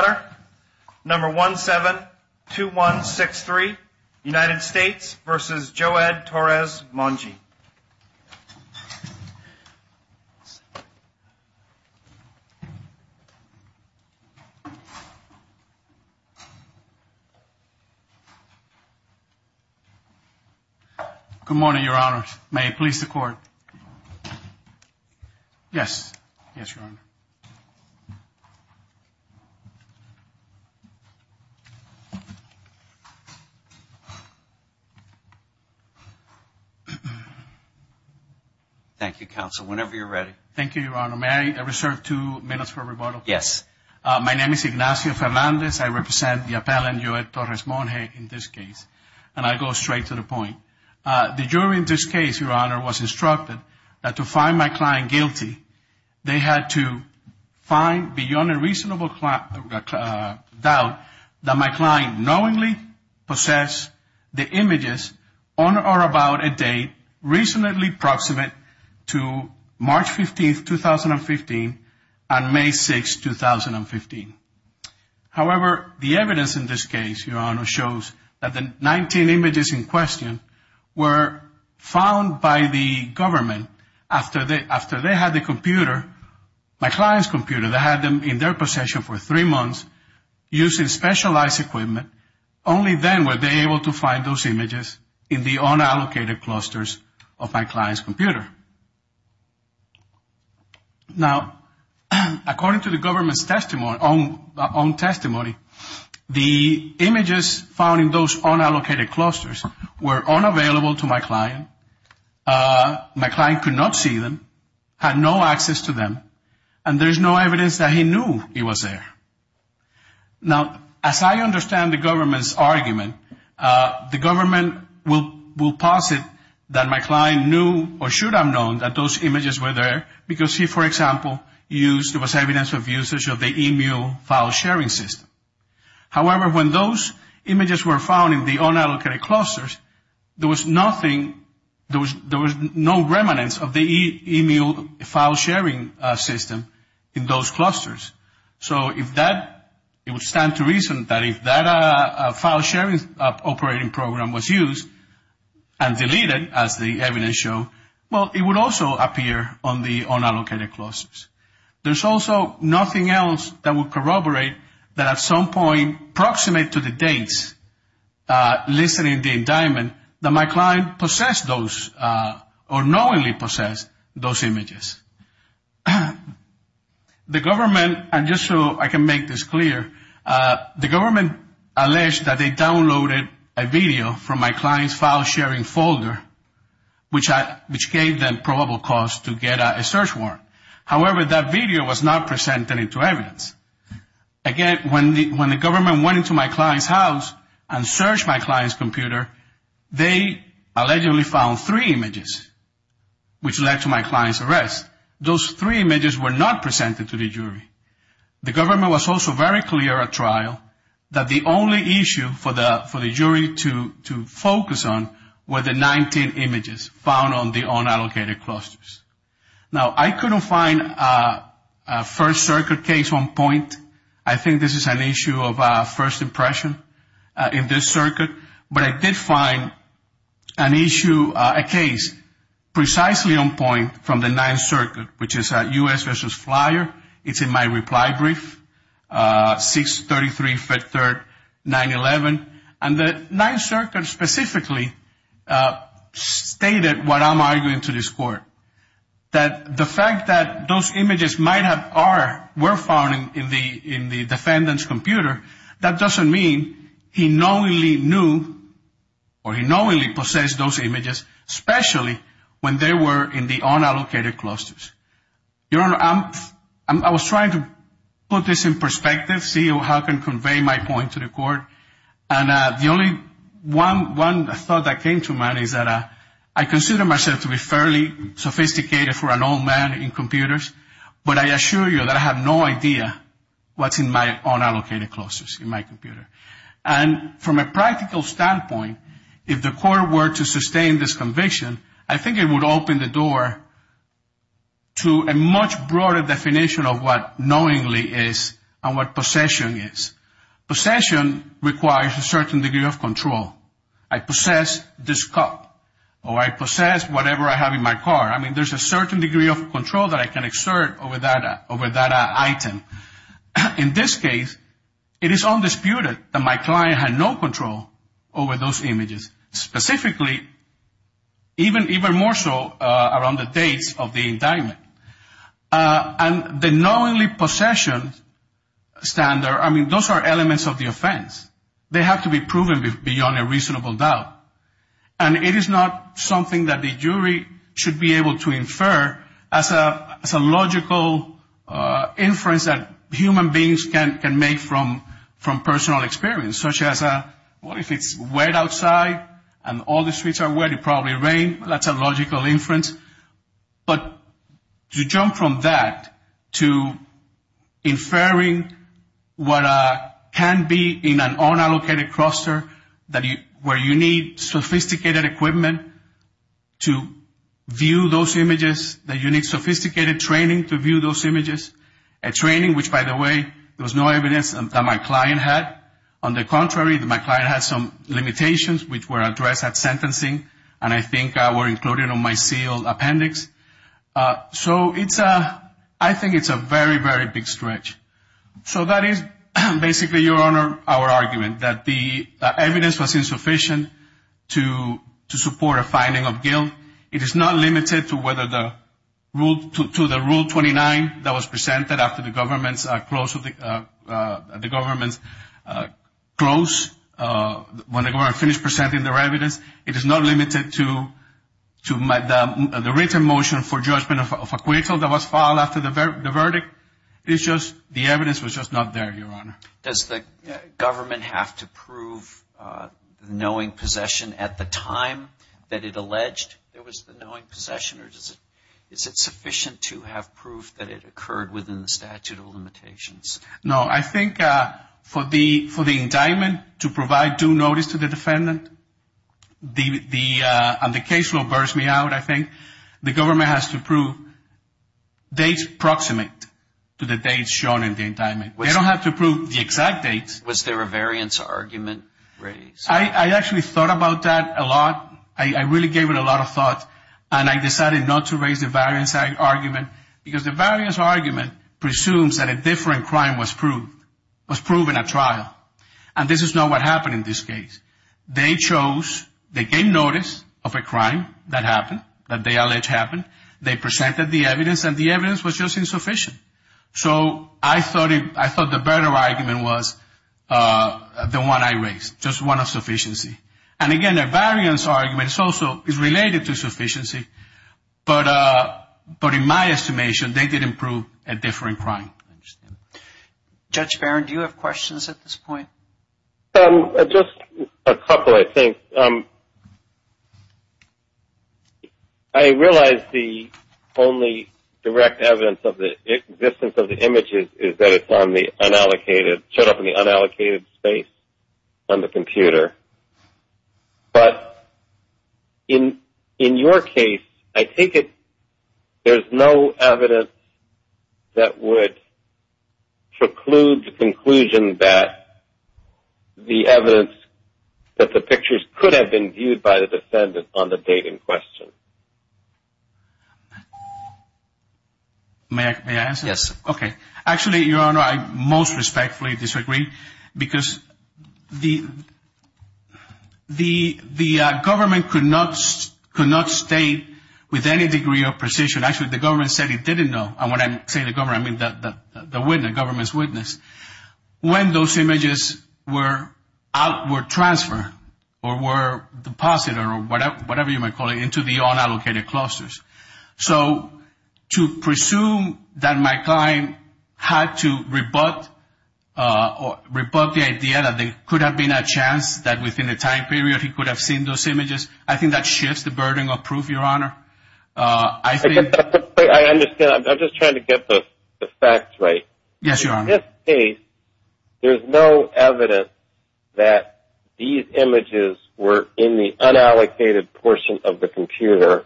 Good morning, Your Honor. May it please the Court. Yes. Yes, Your Honor. Thank you, Counsel. Whenever you're ready. Thank you, Your Honor. May I reserve two minutes for rebuttal? Yes. My name is Ignacio Fernandez. I represent the appellant, Joe Torres-Monje, in this case. And I go straight to the point. The jury in this case, Your Honor, was instructed that to find my client guilty, they had to find beyond a reasonable doubt that my client knowingly possessed the images on or about a date reasonably proximate to March 15, 2015 and May 6, 2015. However, the evidence in this case, Your Honor, shows that the 19 images in question were found by the government after they had the computer, my client's computer. They had them in their possession for three months using specialized equipment. Only then were they able to find those images in the unallocated clusters of my client's computer. Now, according to the government's own testimony, the images found in those unallocated clusters were unavailable to my client. My client could not see them, had no access to them, and there's no evidence that he knew he was there. Now, as I understand the government's argument, the government will posit that my client knew or should have known that those images were there because he, for example, used, there was evidence of usage of the e-mail file sharing system. However, when those images were found in the unallocated clusters, there was nothing, there was no remanence of the e-mail file sharing system in those clusters. So if that, it would stand to reason that if that file sharing operating program was used and deleted, as the evidence shows, well, it would also appear on the unallocated clusters. There's also nothing else that would corroborate that at some point, approximate to the dates listed in the indictment, that my client possessed those or knowingly possessed those images. The government, and just so I can make this clear, the government alleged that they downloaded a video from my client's file sharing folder, which gave them probable cause to get a search warrant. However, that video was not presented into evidence. Again, when the government went into my client's house and searched my client's computer, they allegedly found three images, which led to my client's arrest. Those three images were not presented to the jury. The government was also very clear at trial that the only issue for the jury to focus on were the 19 images found on the unallocated clusters. Now, I couldn't find a First Circuit case on point. I think this is an issue of first impression in this circuit. But I did find an issue, a case, precisely on point from the Ninth Circuit, which is U.S. v. Flyer. It's in my reply brief, 6-33-5-3-9-11. And the Ninth Circuit specifically stated what I'm arguing to this court, that the fact that those images were found in the defendant's computer, that doesn't mean he knowingly knew or he knowingly possessed those images, especially when they were in the unallocated clusters. Your Honor, I was trying to put this in perspective, see how I can convey my point to the court. And the only one thought that came to mind is that I consider myself to be fairly sophisticated for an old man in computers. But I assure you that I have no idea what's in my unallocated clusters in my computer. And from a practical standpoint, if the court were to sustain this conviction, I think it would open the door to a much broader definition of what knowingly is and what possession is. Possession requires a certain degree of control. I possess this cup or I possess whatever I have in my car. I mean, there's a certain degree of control that I can exert over that item. In this case, it is undisputed that my client had no control over those images. Specifically, even more so around the dates of the indictment. And the knowingly possession standard, I mean, those are elements of the offense. They have to be proven beyond a reasonable doubt. And it is not something that the jury should be able to infer as a logical inference that human beings can make from personal experience. Such as, well, if it's wet outside and all the streets are wet, it probably rained. That's a logical inference. But to jump from that to inferring what can be in an unallocated cluster where you need sophisticated equipment to view those images. That you need sophisticated training to view those images. A training which, by the way, there was no evidence that my client had. On the contrary, my client had some limitations which were addressed at sentencing. And I think were included on my sealed appendix. So I think it's a very, very big stretch. So that is basically, Your Honor, our argument. That the evidence was insufficient to support a finding of guilt. It is not limited to the Rule 29 that was presented after the government's close. When the government finished presenting their evidence. It is not limited to the written motion for judgment of acquittal that was filed after the verdict. It's just the evidence was just not there, Your Honor. Does the government have to prove the knowing possession at the time that it alleged there was the knowing possession? Or is it sufficient to have proof that it occurred within the statute of limitations? No, I think for the indictment to provide due notice to the defendant. And the case will burst me out, I think. The government has to prove dates proximate to the dates shown in the indictment. They don't have to prove the exact dates. Was there a variance argument raised? I actually thought about that a lot. I really gave it a lot of thought. And I decided not to raise the variance argument. Because the variance argument presumes that a different crime was proven at trial. And this is not what happened in this case. They chose, they gave notice of a crime that happened, that they alleged happened. They presented the evidence, and the evidence was just insufficient. So I thought the better argument was the one I raised, just one of sufficiency. But in my estimation, they did improve at differing crime. I understand. Judge Barron, do you have questions at this point? Just a couple, I think. I realize the only direct evidence of the existence of the images is that it's on the unallocated, showed up in the unallocated space on the computer. But in your case, I think there's no evidence that would preclude the conclusion that the evidence, that the pictures could have been viewed by the defendant on the date in question. May I answer? Yes. Okay. Actually, Your Honor, I most respectfully disagree, because the government could not state with any degree of precision. Actually, the government said it didn't know. And when I say the government, I mean the witness, the government's witness. When those images were transferred or were deposited or whatever you might call it, into the unallocated clusters. So to presume that my client had to rebut the idea that there could have been a chance that within a time period he could have seen those images, I think that shifts the burden of proof, Your Honor. I think that's a great question. I understand. I'm just trying to get the facts right. Yes, Your Honor. In this case, there's no evidence that these images were in the unallocated portion of the computer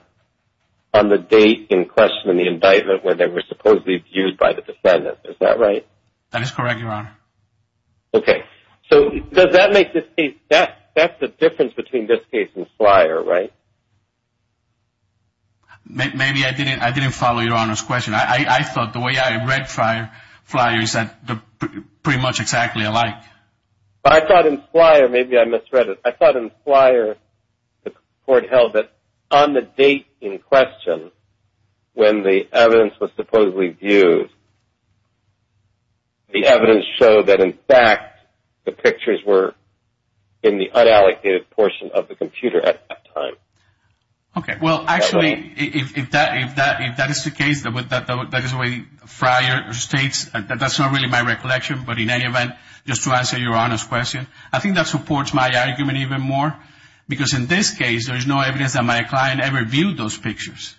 on the date in question in the indictment where they were supposedly viewed by the defendant. Is that right? That is correct, Your Honor. Okay. So does that make this case, that's the difference between this case and Flyer, right? Maybe I didn't follow Your Honor's question. I thought the way I read Flyer is pretty much exactly alike. I thought in Flyer, maybe I misread it. I thought in Flyer the court held that on the date in question when the evidence was supposedly viewed, the evidence showed that in fact the pictures were in the unallocated portion of the computer at that time. Okay. Well, actually, if that is the case, that is the way Flyer states, that's not really my recollection, but in any event, just to answer Your Honor's question, I think that supports my argument even more because in this case there is no evidence that my client ever viewed those pictures.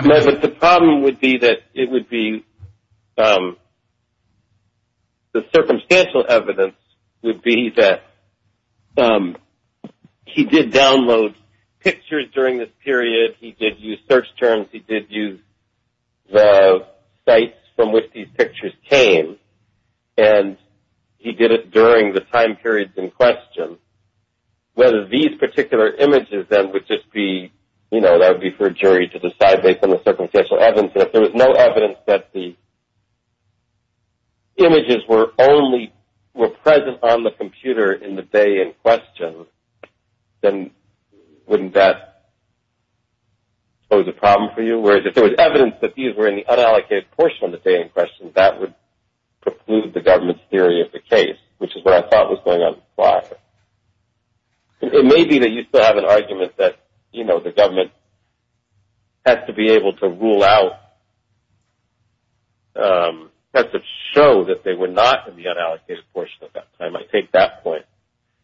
No, but the problem would be that it would be the circumstantial evidence would be that he did download pictures during this period, he did use search terms, he did use the sites from which these pictures came, and he did it during the time periods in question. Whether these particular images then would just be, you know, that would be for a jury to decide based on the circumstantial evidence. If there was no evidence that the images were only present on the computer in the day in question, then wouldn't that pose a problem for you? Whereas if there was evidence that these were in the unallocated portion of the day in question, that would preclude the government's theory of the case, which is what I thought was going on in Flyer. It may be that you still have an argument that, you know, the government has to be able to rule out, has to show that they were not in the unallocated portion of that time. I take that point.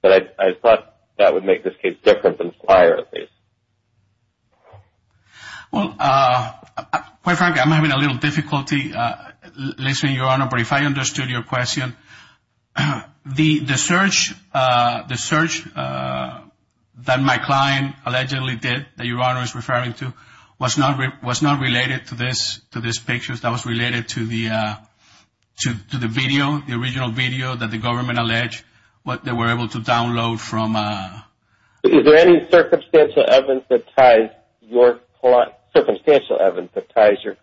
But I thought that would make this case different than Flyer at least. Well, quite frankly, I'm having a little difficulty listening, Your Honor. But if I understood your question, the search that my client allegedly did that Your Honor is referring to was not related to this picture. That was related to the video, the original video that the government alleged that they were able to download from. Is there any circumstantial evidence that ties your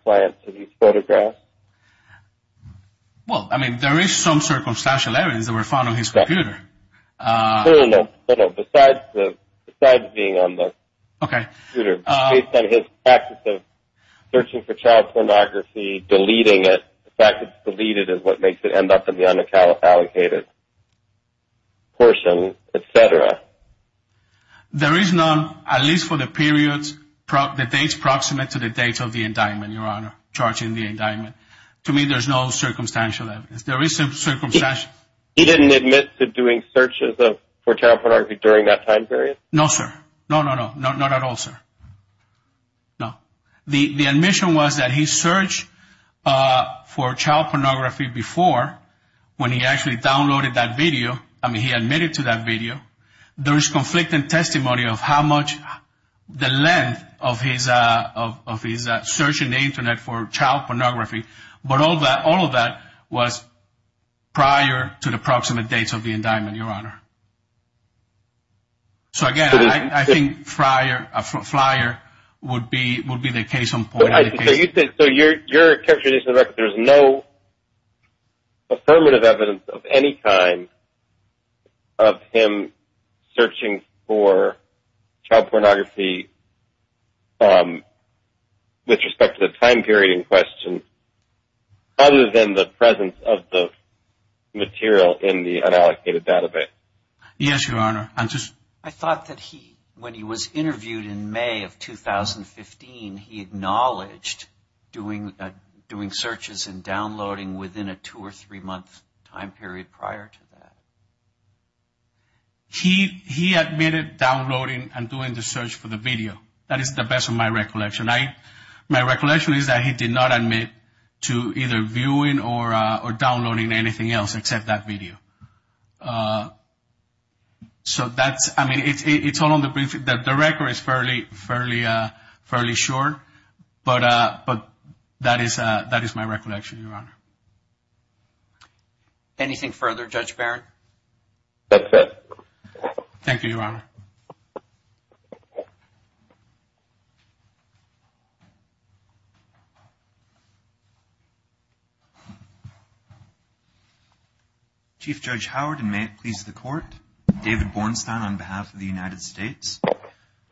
client to these photographs? Well, I mean, there is some circumstantial evidence that were found on his computer. No, no, besides being on the computer. Based on his practice of searching for child pornography, deleting it. The fact that it's deleted is what makes it end up in the unallocated portion, et cetera. There is none, at least for the periods, the dates proximate to the dates of the indictment, Your Honor, charging the indictment. To me, there's no circumstantial evidence. There is some circumstantial. He didn't admit to doing searches for child pornography during that time period? No, sir. No, no, no. Not at all, sir. No. The admission was that he searched for child pornography before when he actually downloaded that video. I mean, he admitted to that video. There is conflicting testimony of how much the length of his search in the Internet for child pornography, but all of that was prior to the proximate dates of the indictment, Your Honor. So, again, I think Friar would be the case on point. So you're characterizing the record. There's no affirmative evidence of any kind of him searching for child pornography with respect to the time period other than the presence of the material in the unallocated database? Yes, Your Honor. I thought that when he was interviewed in May of 2015, he acknowledged doing searches and downloading within a two- or three-month time period prior to that. He admitted downloading and doing the search for the video. That is the best of my recollection. My recollection is that he did not admit to either viewing or downloading anything else except that video. So that's – I mean, it's all on the – the record is fairly short, but that is my recollection, Your Honor. Anything further, Judge Barron? That's it. Thank you, Your Honor. Chief Judge Howard, and may it please the Court. David Bornstein on behalf of the United States.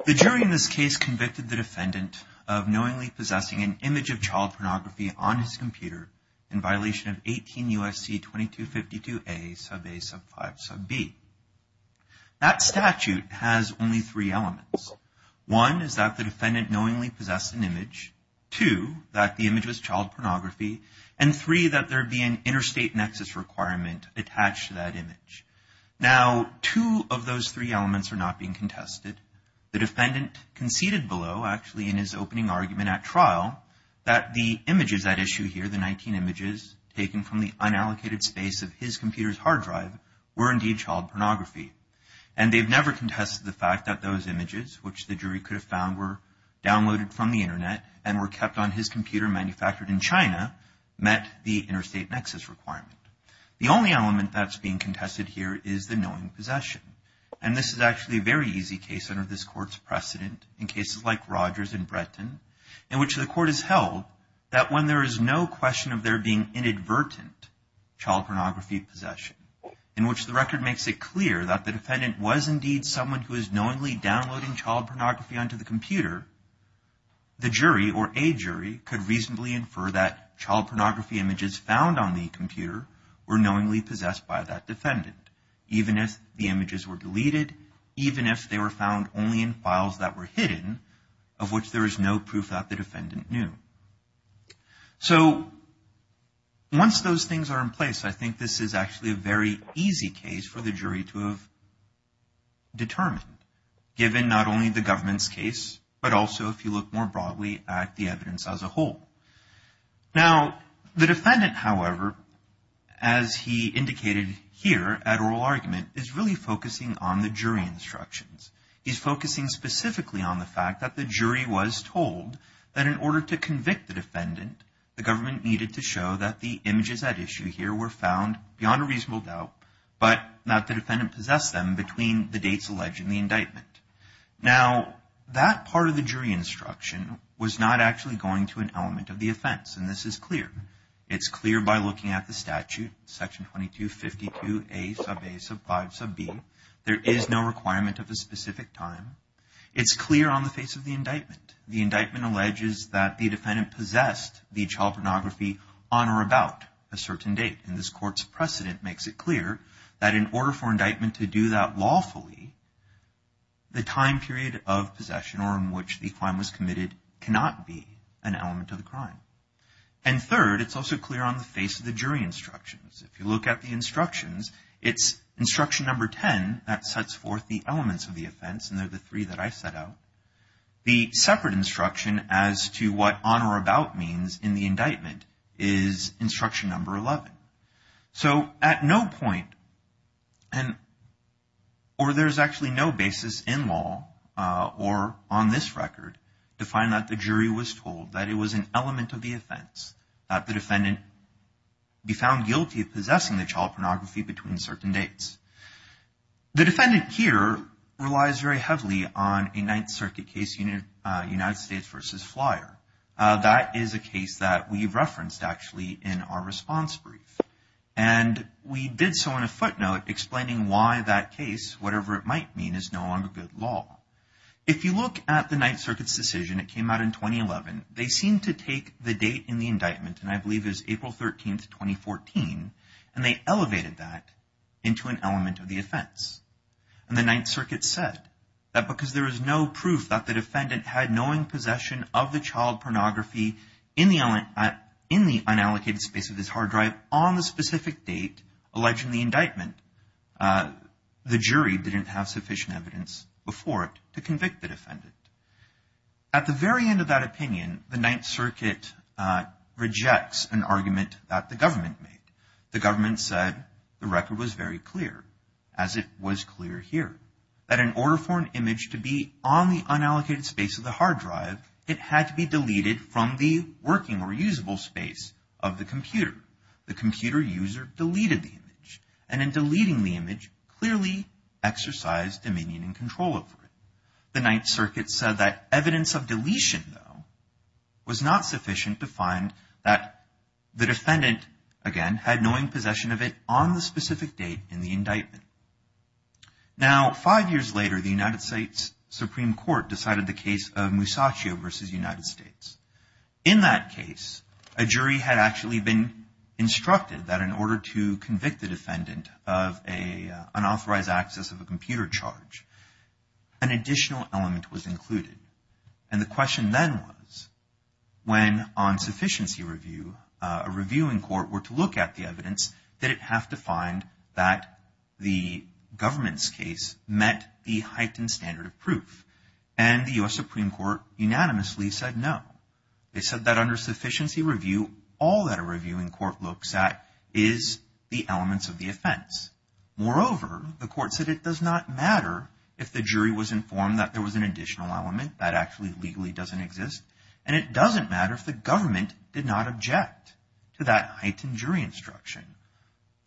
The jury in this case convicted the defendant of knowingly possessing an image of child pornography on his computer in violation of 18 U.S.C. 2252a sub a sub 5 sub b. That statute has only three elements. One is that the defendant knowingly possessed an image. Two, that the image was child pornography. And three, that there be an interstate nexus requirement attached to that image. Now, two of those three elements are not being contested. The defendant conceded below, actually in his opening argument at trial, that the images at issue here, the 19 images taken from the unallocated space of his computer's hard drive, were indeed child pornography. And they've never contested the fact that those images, which the jury could have found were downloaded from the Internet and were kept on his computer manufactured in China, met the interstate nexus requirement. The only element that's being contested here is the knowing possession. And this is actually a very easy case under this Court's precedent, in cases like Rogers and Bretton, in which the Court has held that when there is no question of there being inadvertent child pornography possession, in which the record makes it clear that the defendant was indeed someone who is knowingly downloading child pornography onto the computer, the jury or a jury could reasonably infer that child pornography images found on the computer were knowingly possessed by that defendant, even if the images were deleted, even if they were found only in files that were hidden, of which there is no proof that the defendant knew. So once those things are in place, I think this is actually a very easy case for the jury to have determined, given not only the government's case, but also if you look more broadly at the evidence as a whole. Now, the defendant, however, as he indicated here at oral argument, is really focusing on the jury instructions. He's focusing specifically on the fact that the jury was told that in order to convict the defendant, the government needed to show that the images at issue here were found beyond a reasonable doubt, but that the defendant possessed them between the dates alleged in the indictment. Now, that part of the jury instruction was not actually going to an element of the offense, and this is clear. It's clear by looking at the statute, section 2252A sub A sub 5 sub B. There is no requirement of a specific time. It's clear on the face of the indictment. The indictment alleges that the defendant possessed the child pornography on or about a certain date, and this court's precedent makes it clear that in order for indictment to do that lawfully, the time period of possession or in which the crime was committed cannot be an element of the crime. And third, it's also clear on the face of the jury instructions. If you look at the instructions, it's instruction number 10 that sets forth the elements of the offense, and they're the three that I set out. The separate instruction as to what on or about means in the indictment is instruction number 11. So at no point, or there's actually no basis in law or on this record, to find that the jury was told that it was an element of the offense, that the defendant be found guilty of possessing the child pornography between certain dates. The defendant here relies very heavily on a Ninth Circuit case, United States v. Flyer. That is a case that we referenced actually in our response brief, and we did so in a footnote explaining why that case, whatever it might mean, is no longer good law. If you look at the Ninth Circuit's decision, it came out in 2011, they seemed to take the date in the indictment, and I believe it was April 13, 2014, and they elevated that into an element of the offense. And the Ninth Circuit said that because there is no proof that the defendant had knowing possession of the child pornography in the unallocated space of his hard drive on the specific date alleged in the indictment, the jury didn't have sufficient evidence before it to convict the defendant. At the very end of that opinion, the Ninth Circuit rejects an argument that the government made. The government said the record was very clear, as it was clear here, that in order for an image to be on the unallocated space of the hard drive, it had to be deleted from the working or usable space of the computer. The computer user deleted the image, and in deleting the image, clearly exercised dominion and control over it. The Ninth Circuit said that evidence of deletion, though, was not sufficient to find that the defendant, again, had knowing possession of it on the specific date in the indictment. Now, five years later, the United States Supreme Court decided the case of Musacchio v. United States. In that case, a jury had actually been instructed that in order to convict the defendant of an unauthorized access of a computer charge, an additional element was included. And the question then was, when on sufficiency review, a reviewing court were to look at the evidence, did it have to find that the government's case met the heightened standard of proof? And the U.S. Supreme Court unanimously said no. They said that under sufficiency review, all that a reviewing court looks at is the elements of the offense. Moreover, the court said it does not matter if the jury was informed that there was an additional element. That actually legally doesn't exist. And it doesn't matter if the government did not object to that heightened jury instruction.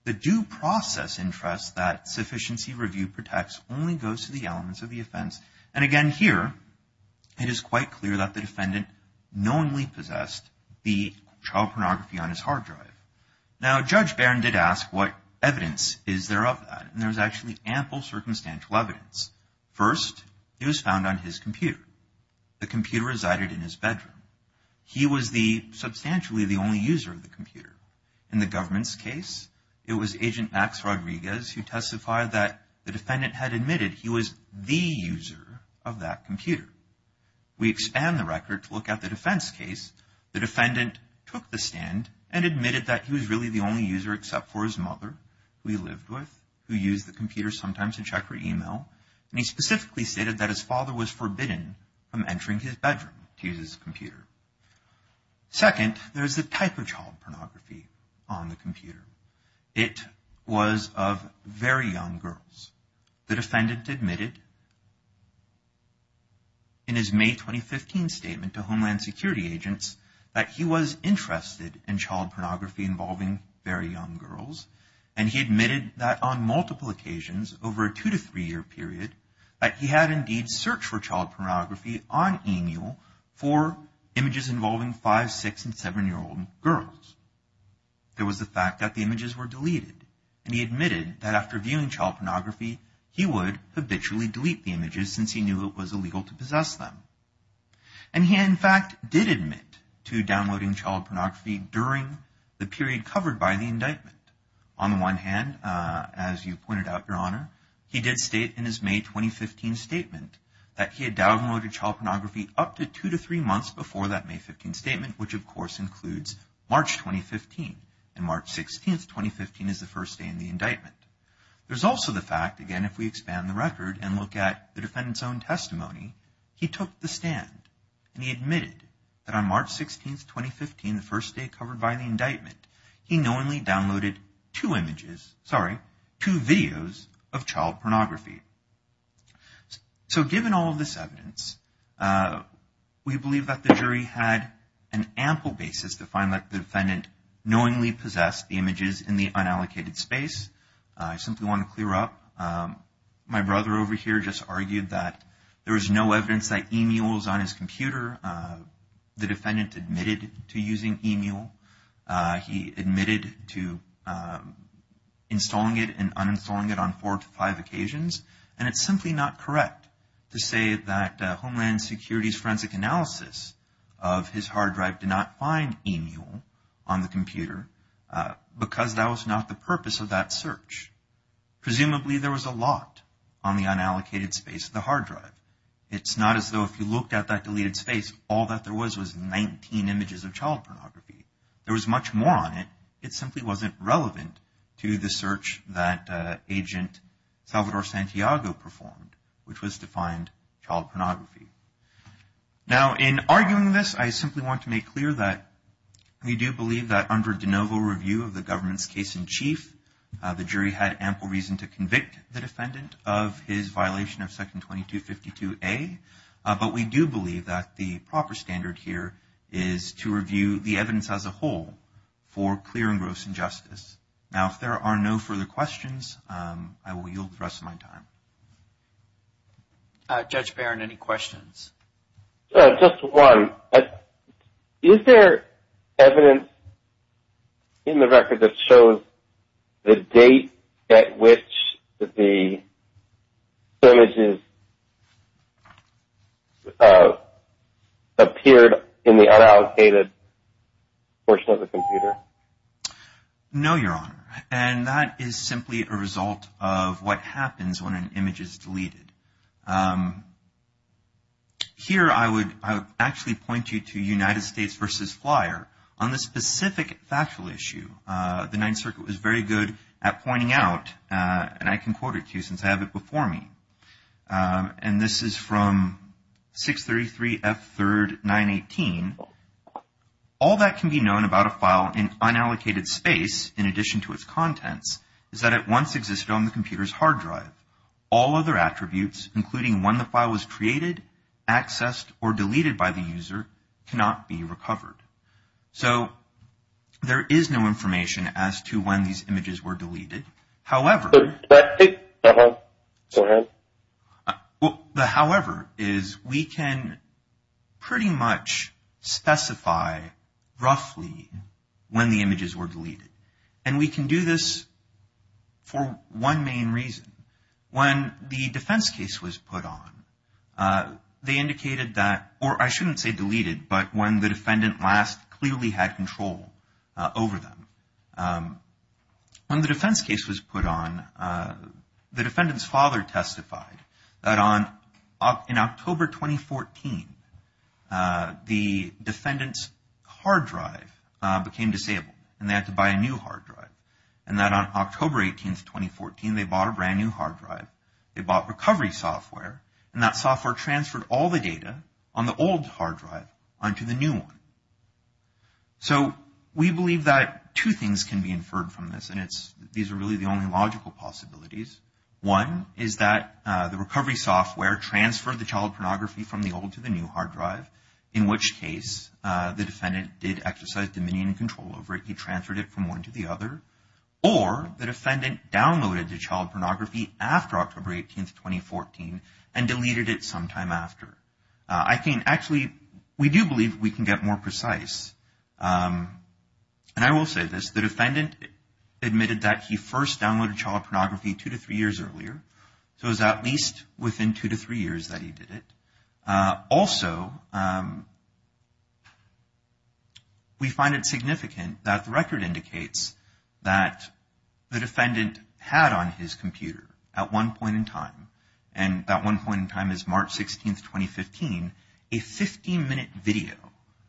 The due process interest that sufficiency review protects only goes to the elements of the offense. And again here, it is quite clear that the defendant knowingly possessed the child pornography on his hard drive. Now, Judge Barron did ask what evidence is there of that. And there's actually ample circumstantial evidence. First, it was found on his computer. The computer resided in his bedroom. He was substantially the only user of the computer. In the government's case, it was Agent Max Rodriguez who testified that the defendant had admitted he was the user of that computer. We expand the record to look at the defense case. The defendant took the stand and admitted that he was really the only user except for his mother, who he lived with, who used the computer sometimes to check her email. And he specifically stated that his father was forbidden from entering his bedroom to use his computer. Second, there's the type of child pornography on the computer. It was of very young girls. The defendant admitted in his May 2015 statement to Homeland Security agents that he was interested in child pornography involving very young girls. And he admitted that on multiple occasions over a two to three-year period, that he had indeed searched for child pornography on EMU for images involving five, six, and seven-year-old girls. There was the fact that the images were deleted. And he admitted that after viewing child pornography, he would habitually delete the images since he knew it was illegal to possess them. And he, in fact, did admit to downloading child pornography during the period covered by the indictment. On the one hand, as you pointed out, Your Honor, he did state in his May 2015 statement that he had downloaded child pornography up to two to three months before that May 15 statement, which, of course, includes March 2015. And March 16, 2015 is the first day in the indictment. There's also the fact, again, if we expand the record and look at the defendant's own testimony, he took the stand and he admitted that on March 16, 2015, the first day covered by the indictment, he knowingly downloaded two images, sorry, two videos of child pornography. So given all of this evidence, we believe that the jury had an ample basis to find that the defendant knowingly possessed the images in the unallocated space. I simply want to clear up. My brother over here just argued that there was no evidence that EMU was on his computer. The defendant admitted to using EMU. He admitted to installing it and uninstalling it on four to five occasions. And it's simply not correct to say that Homeland Security's forensic analysis of his hard drive did not find EMU on the computer because that was not the purpose of that search. Presumably, there was a lot on the unallocated space of the hard drive. It's not as though if you looked at that deleted space, all that there was was 19 images of child pornography. There was much more on it. It simply wasn't relevant to the search that Agent Salvador Santiago performed, which was to find child pornography. Now, in arguing this, I simply want to make clear that we do believe that under de novo review of the government's The jury had ample reason to convict the defendant of his violation of Section 2252A. But we do believe that the proper standard here is to review the evidence as a whole for clear and gross injustice. Now, if there are no further questions, I will yield the rest of my time. Judge Barron, any questions? Just one. Is there evidence in the record that shows the date at which the images appeared in the unallocated portion of the computer? No, Your Honor. And that is simply a result of what happens when an image is deleted. Here, I would actually point you to United States v. Flyer on this specific factual issue. The Ninth Circuit was very good at pointing out, and I can quote it to you since I have it before me. And this is from 633F3RD918. All that can be known about a file in unallocated space, in addition to its contents, is that it once existed on the computer's hard drive. All other attributes, including when the file was created, accessed, or deleted by the user, cannot be recovered. So, there is no information as to when these images were deleted. However, we can pretty much specify roughly when the images were deleted. And we can do this for one main reason. When the defense case was put on, they indicated that, or I shouldn't say deleted, but when the defendant last clearly had control over them. When the defense case was put on, the defendant's father testified that in October 2014, the defendant's hard drive became disabled. And they had to buy a new hard drive. And that on October 18, 2014, they bought a brand new hard drive. They bought recovery software, and that software transferred all the data on the old hard drive onto the new one. So, we believe that two things can be inferred from this, and these are really the only logical possibilities. One is that the recovery software transferred the child pornography from the old to the new hard drive, in which case the defendant did exercise dominion and control over it. He transferred it from one to the other. Or, the defendant downloaded the child pornography after October 18, 2014, and deleted it sometime after. Actually, we do believe we can get more precise, and I will say this. The defendant admitted that he first downloaded child pornography two to three years earlier, so it was at least within two to three years that he did it. Also, we find it significant that the record indicates that the defendant had on his computer at one point in time, and that one point in time is March 16, 2015, a 15-minute video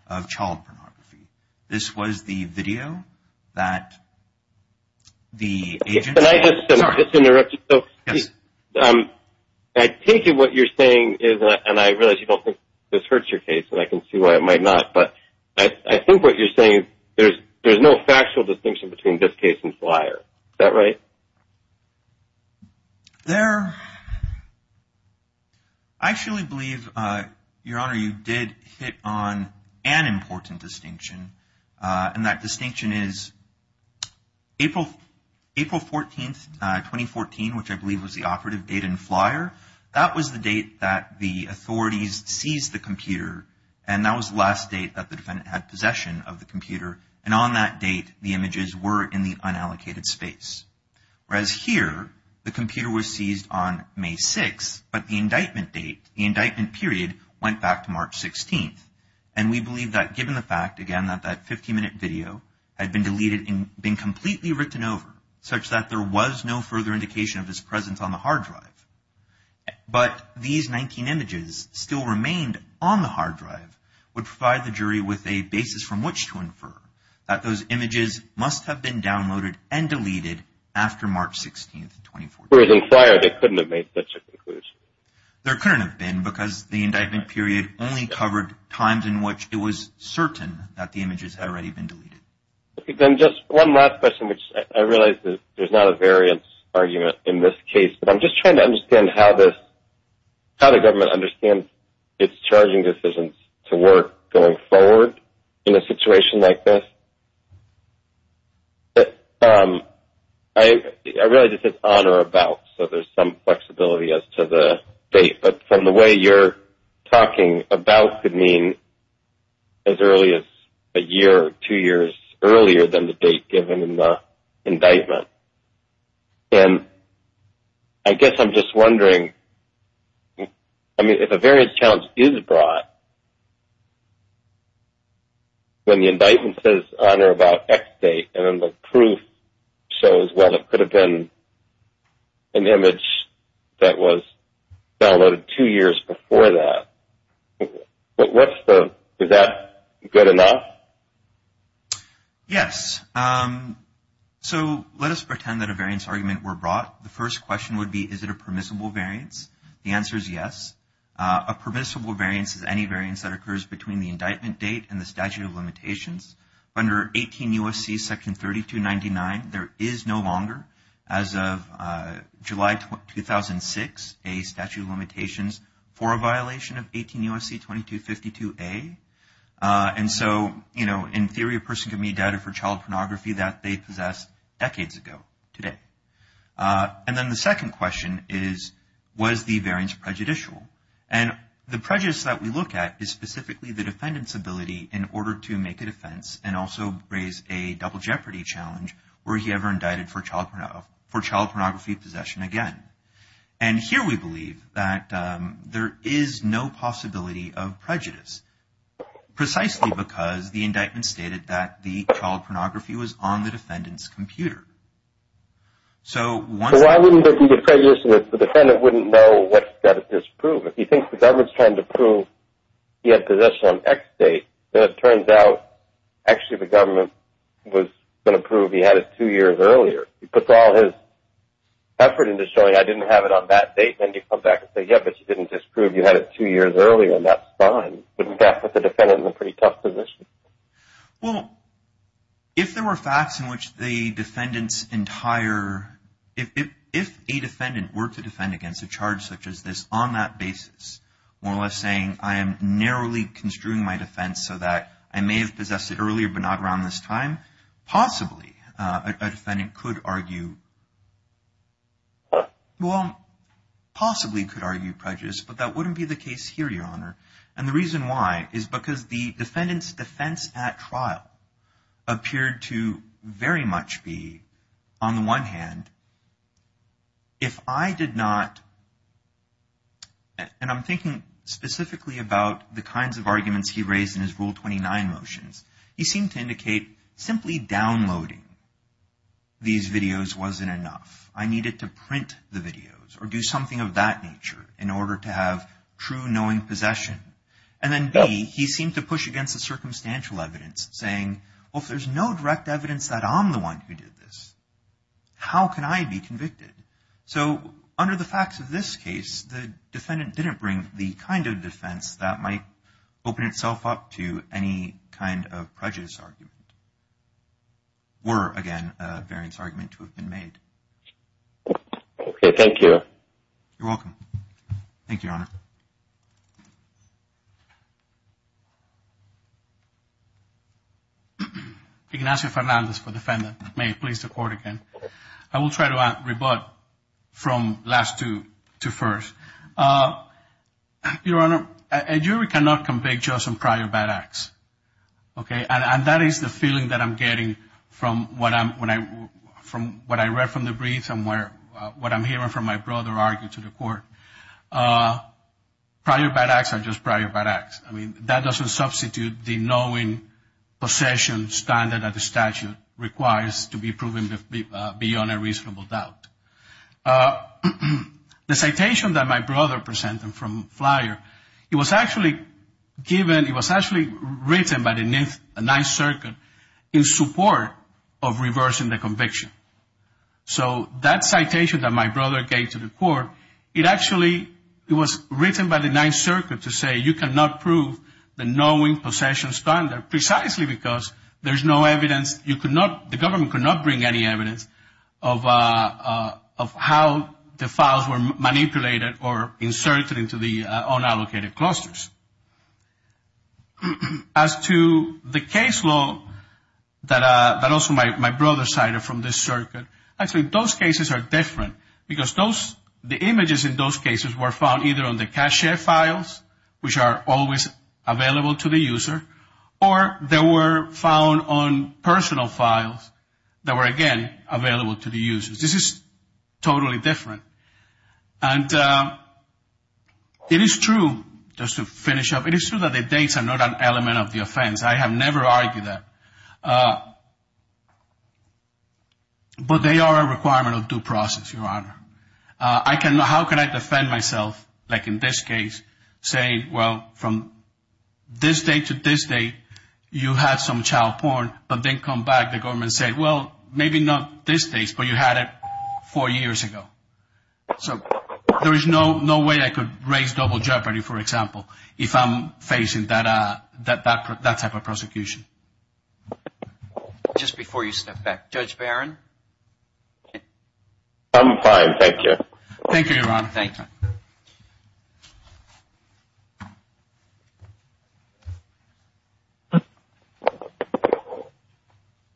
of child pornography. This was the video that the agent… Can I just interrupt you? Yes. I take it what you're saying is, and I realize you don't think this hurts your case, and I can see why it might not, but I think what you're saying is there's no factual distinction between this case and Flyer. Is that right? There… I actually believe, Your Honor, you did hit on an important distinction, and that distinction is April 14, 2014, which I believe was the operative date in Flyer, that was the date that the authorities seized the computer, and that was the last date that the defendant had possession of the computer, and on that date, the images were in the unallocated space. Whereas here, the computer was seized on May 6, but the indictment date, the indictment period, went back to March 16, and we believe that given the fact, again, that that 15-minute video had been deleted and been completely written over, such that there was no further indication of his presence on the hard drive, but these 19 images still remained on the hard drive would provide the jury with a basis from which to infer that those images must have been downloaded and deleted after March 16, 2014. Whereas in Flyer, they couldn't have made such a conclusion. There couldn't have been because the indictment period only covered times in which it was certain that the images had already been deleted. Okay, then just one last question, which I realize there's not a variance argument in this case, but I'm just trying to understand how the government understands its charging decisions to work going forward in a situation like this. I realize this is on or about, so there's some flexibility as to the date, but from the way you're talking, about could mean as early as a year or two years earlier than the date given in the indictment. And I guess I'm just wondering, I mean, if a variance challenge is brought when the indictment says on or about X date and then the proof shows, well, it could have been an image that was downloaded two years before that, is that good enough? Yes. So let us pretend that a variance argument were brought. The first question would be, is it a permissible variance? The answer is yes. A permissible variance is any variance that occurs between the indictment date and the statute of limitations. Under 18 U.S.C. section 3299, there is no longer, as of July 2006, a statute of limitations for a violation of 18 U.S.C. 2252A. And so, you know, in theory, a person can be indicted for child pornography that they possessed decades ago today. And then the second question is, was the variance prejudicial? And the prejudice that we look at is specifically the defendant's ability in order to make a defense and also raise a double jeopardy challenge were he ever indicted for child pornography possession again. And here we believe that there is no possibility of prejudice, precisely because the indictment stated that the child pornography was on the defendant's computer. So why wouldn't it be prejudicial if the defendant wouldn't know what he's got to disprove? If he thinks the government's trying to prove he had possession on X date, then it turns out actually the government was going to prove he had it two years earlier. He puts all his effort into showing I didn't have it on that date, and then you come back and say, yeah, but you didn't disprove you had it two years earlier, and that's fine. Wouldn't that put the defendant in a pretty tough position? Well, if there were facts in which the defendant's entire – if a defendant were to defend against a charge such as this, on that basis, more or less saying I am narrowly construing my defense so that I may have possessed it earlier but not around this time, possibly a defendant could argue – well, possibly could argue prejudice, but that wouldn't be the case here, Your Honor. And the reason why is because the defendant's defense at trial appeared to very much be, on the one hand, if I did not – and I'm thinking specifically about the kinds of arguments he raised in his Rule 29 motions. He seemed to indicate simply downloading these videos wasn't enough. I needed to print the videos or do something of that nature in order to have true knowing possession. And then, B, he seemed to push against the circumstantial evidence, saying, well, if there's no direct evidence that I'm the one who did this, how can I be convicted? So under the facts of this case, the defendant didn't bring the kind of defense that might open itself up to any kind of prejudice argument, were, again, a variance argument to have been made. Okay, thank you. You're welcome. Thank you, Your Honor. Ignacio Fernandez for defendant. May it please the Court again. I will try to rebut from last to first. Your Honor, a jury cannot convict just on prior bad acts. Okay, and that is the feeling that I'm getting from what I read from the brief and what I'm hearing from my brother argue to the Court. Prior bad acts are just prior bad acts. I mean, that doesn't substitute the knowing possession standard that the statute requires to be proven beyond a reasonable doubt. The citation that my brother presented from Flyer, it was actually given, it was actually written by the Ninth Circuit in support of reversing the conviction. So that citation that my brother gave to the Court, it actually, it was written by the Ninth Circuit to say you cannot prove the knowing possession standard, precisely because there's no evidence, you could not, the government could not bring any evidence of how the files were manipulated or inserted into the unallocated clusters. As to the case law that also my brother cited from this circuit, actually, those cases are different because the images in those cases were found either on the cache files, which are always available to the user, or they were found on personal files that were, again, available to the users. This is totally different. It is true, just to finish up, it is true that the dates are not an element of the offense. I have never argued that. But they are a requirement of due process, Your Honor. How can I defend myself, like in this case, say, well, from this date to this date, you had some child porn, but then come back, the government said, well, maybe not this date, but you had it four years ago. So there is no way I could raise double jeopardy, for example, if I'm facing that type of prosecution. Just before you step back, Judge Barron? I'm fine, thank you. Thank you, Your Honor. Thank you.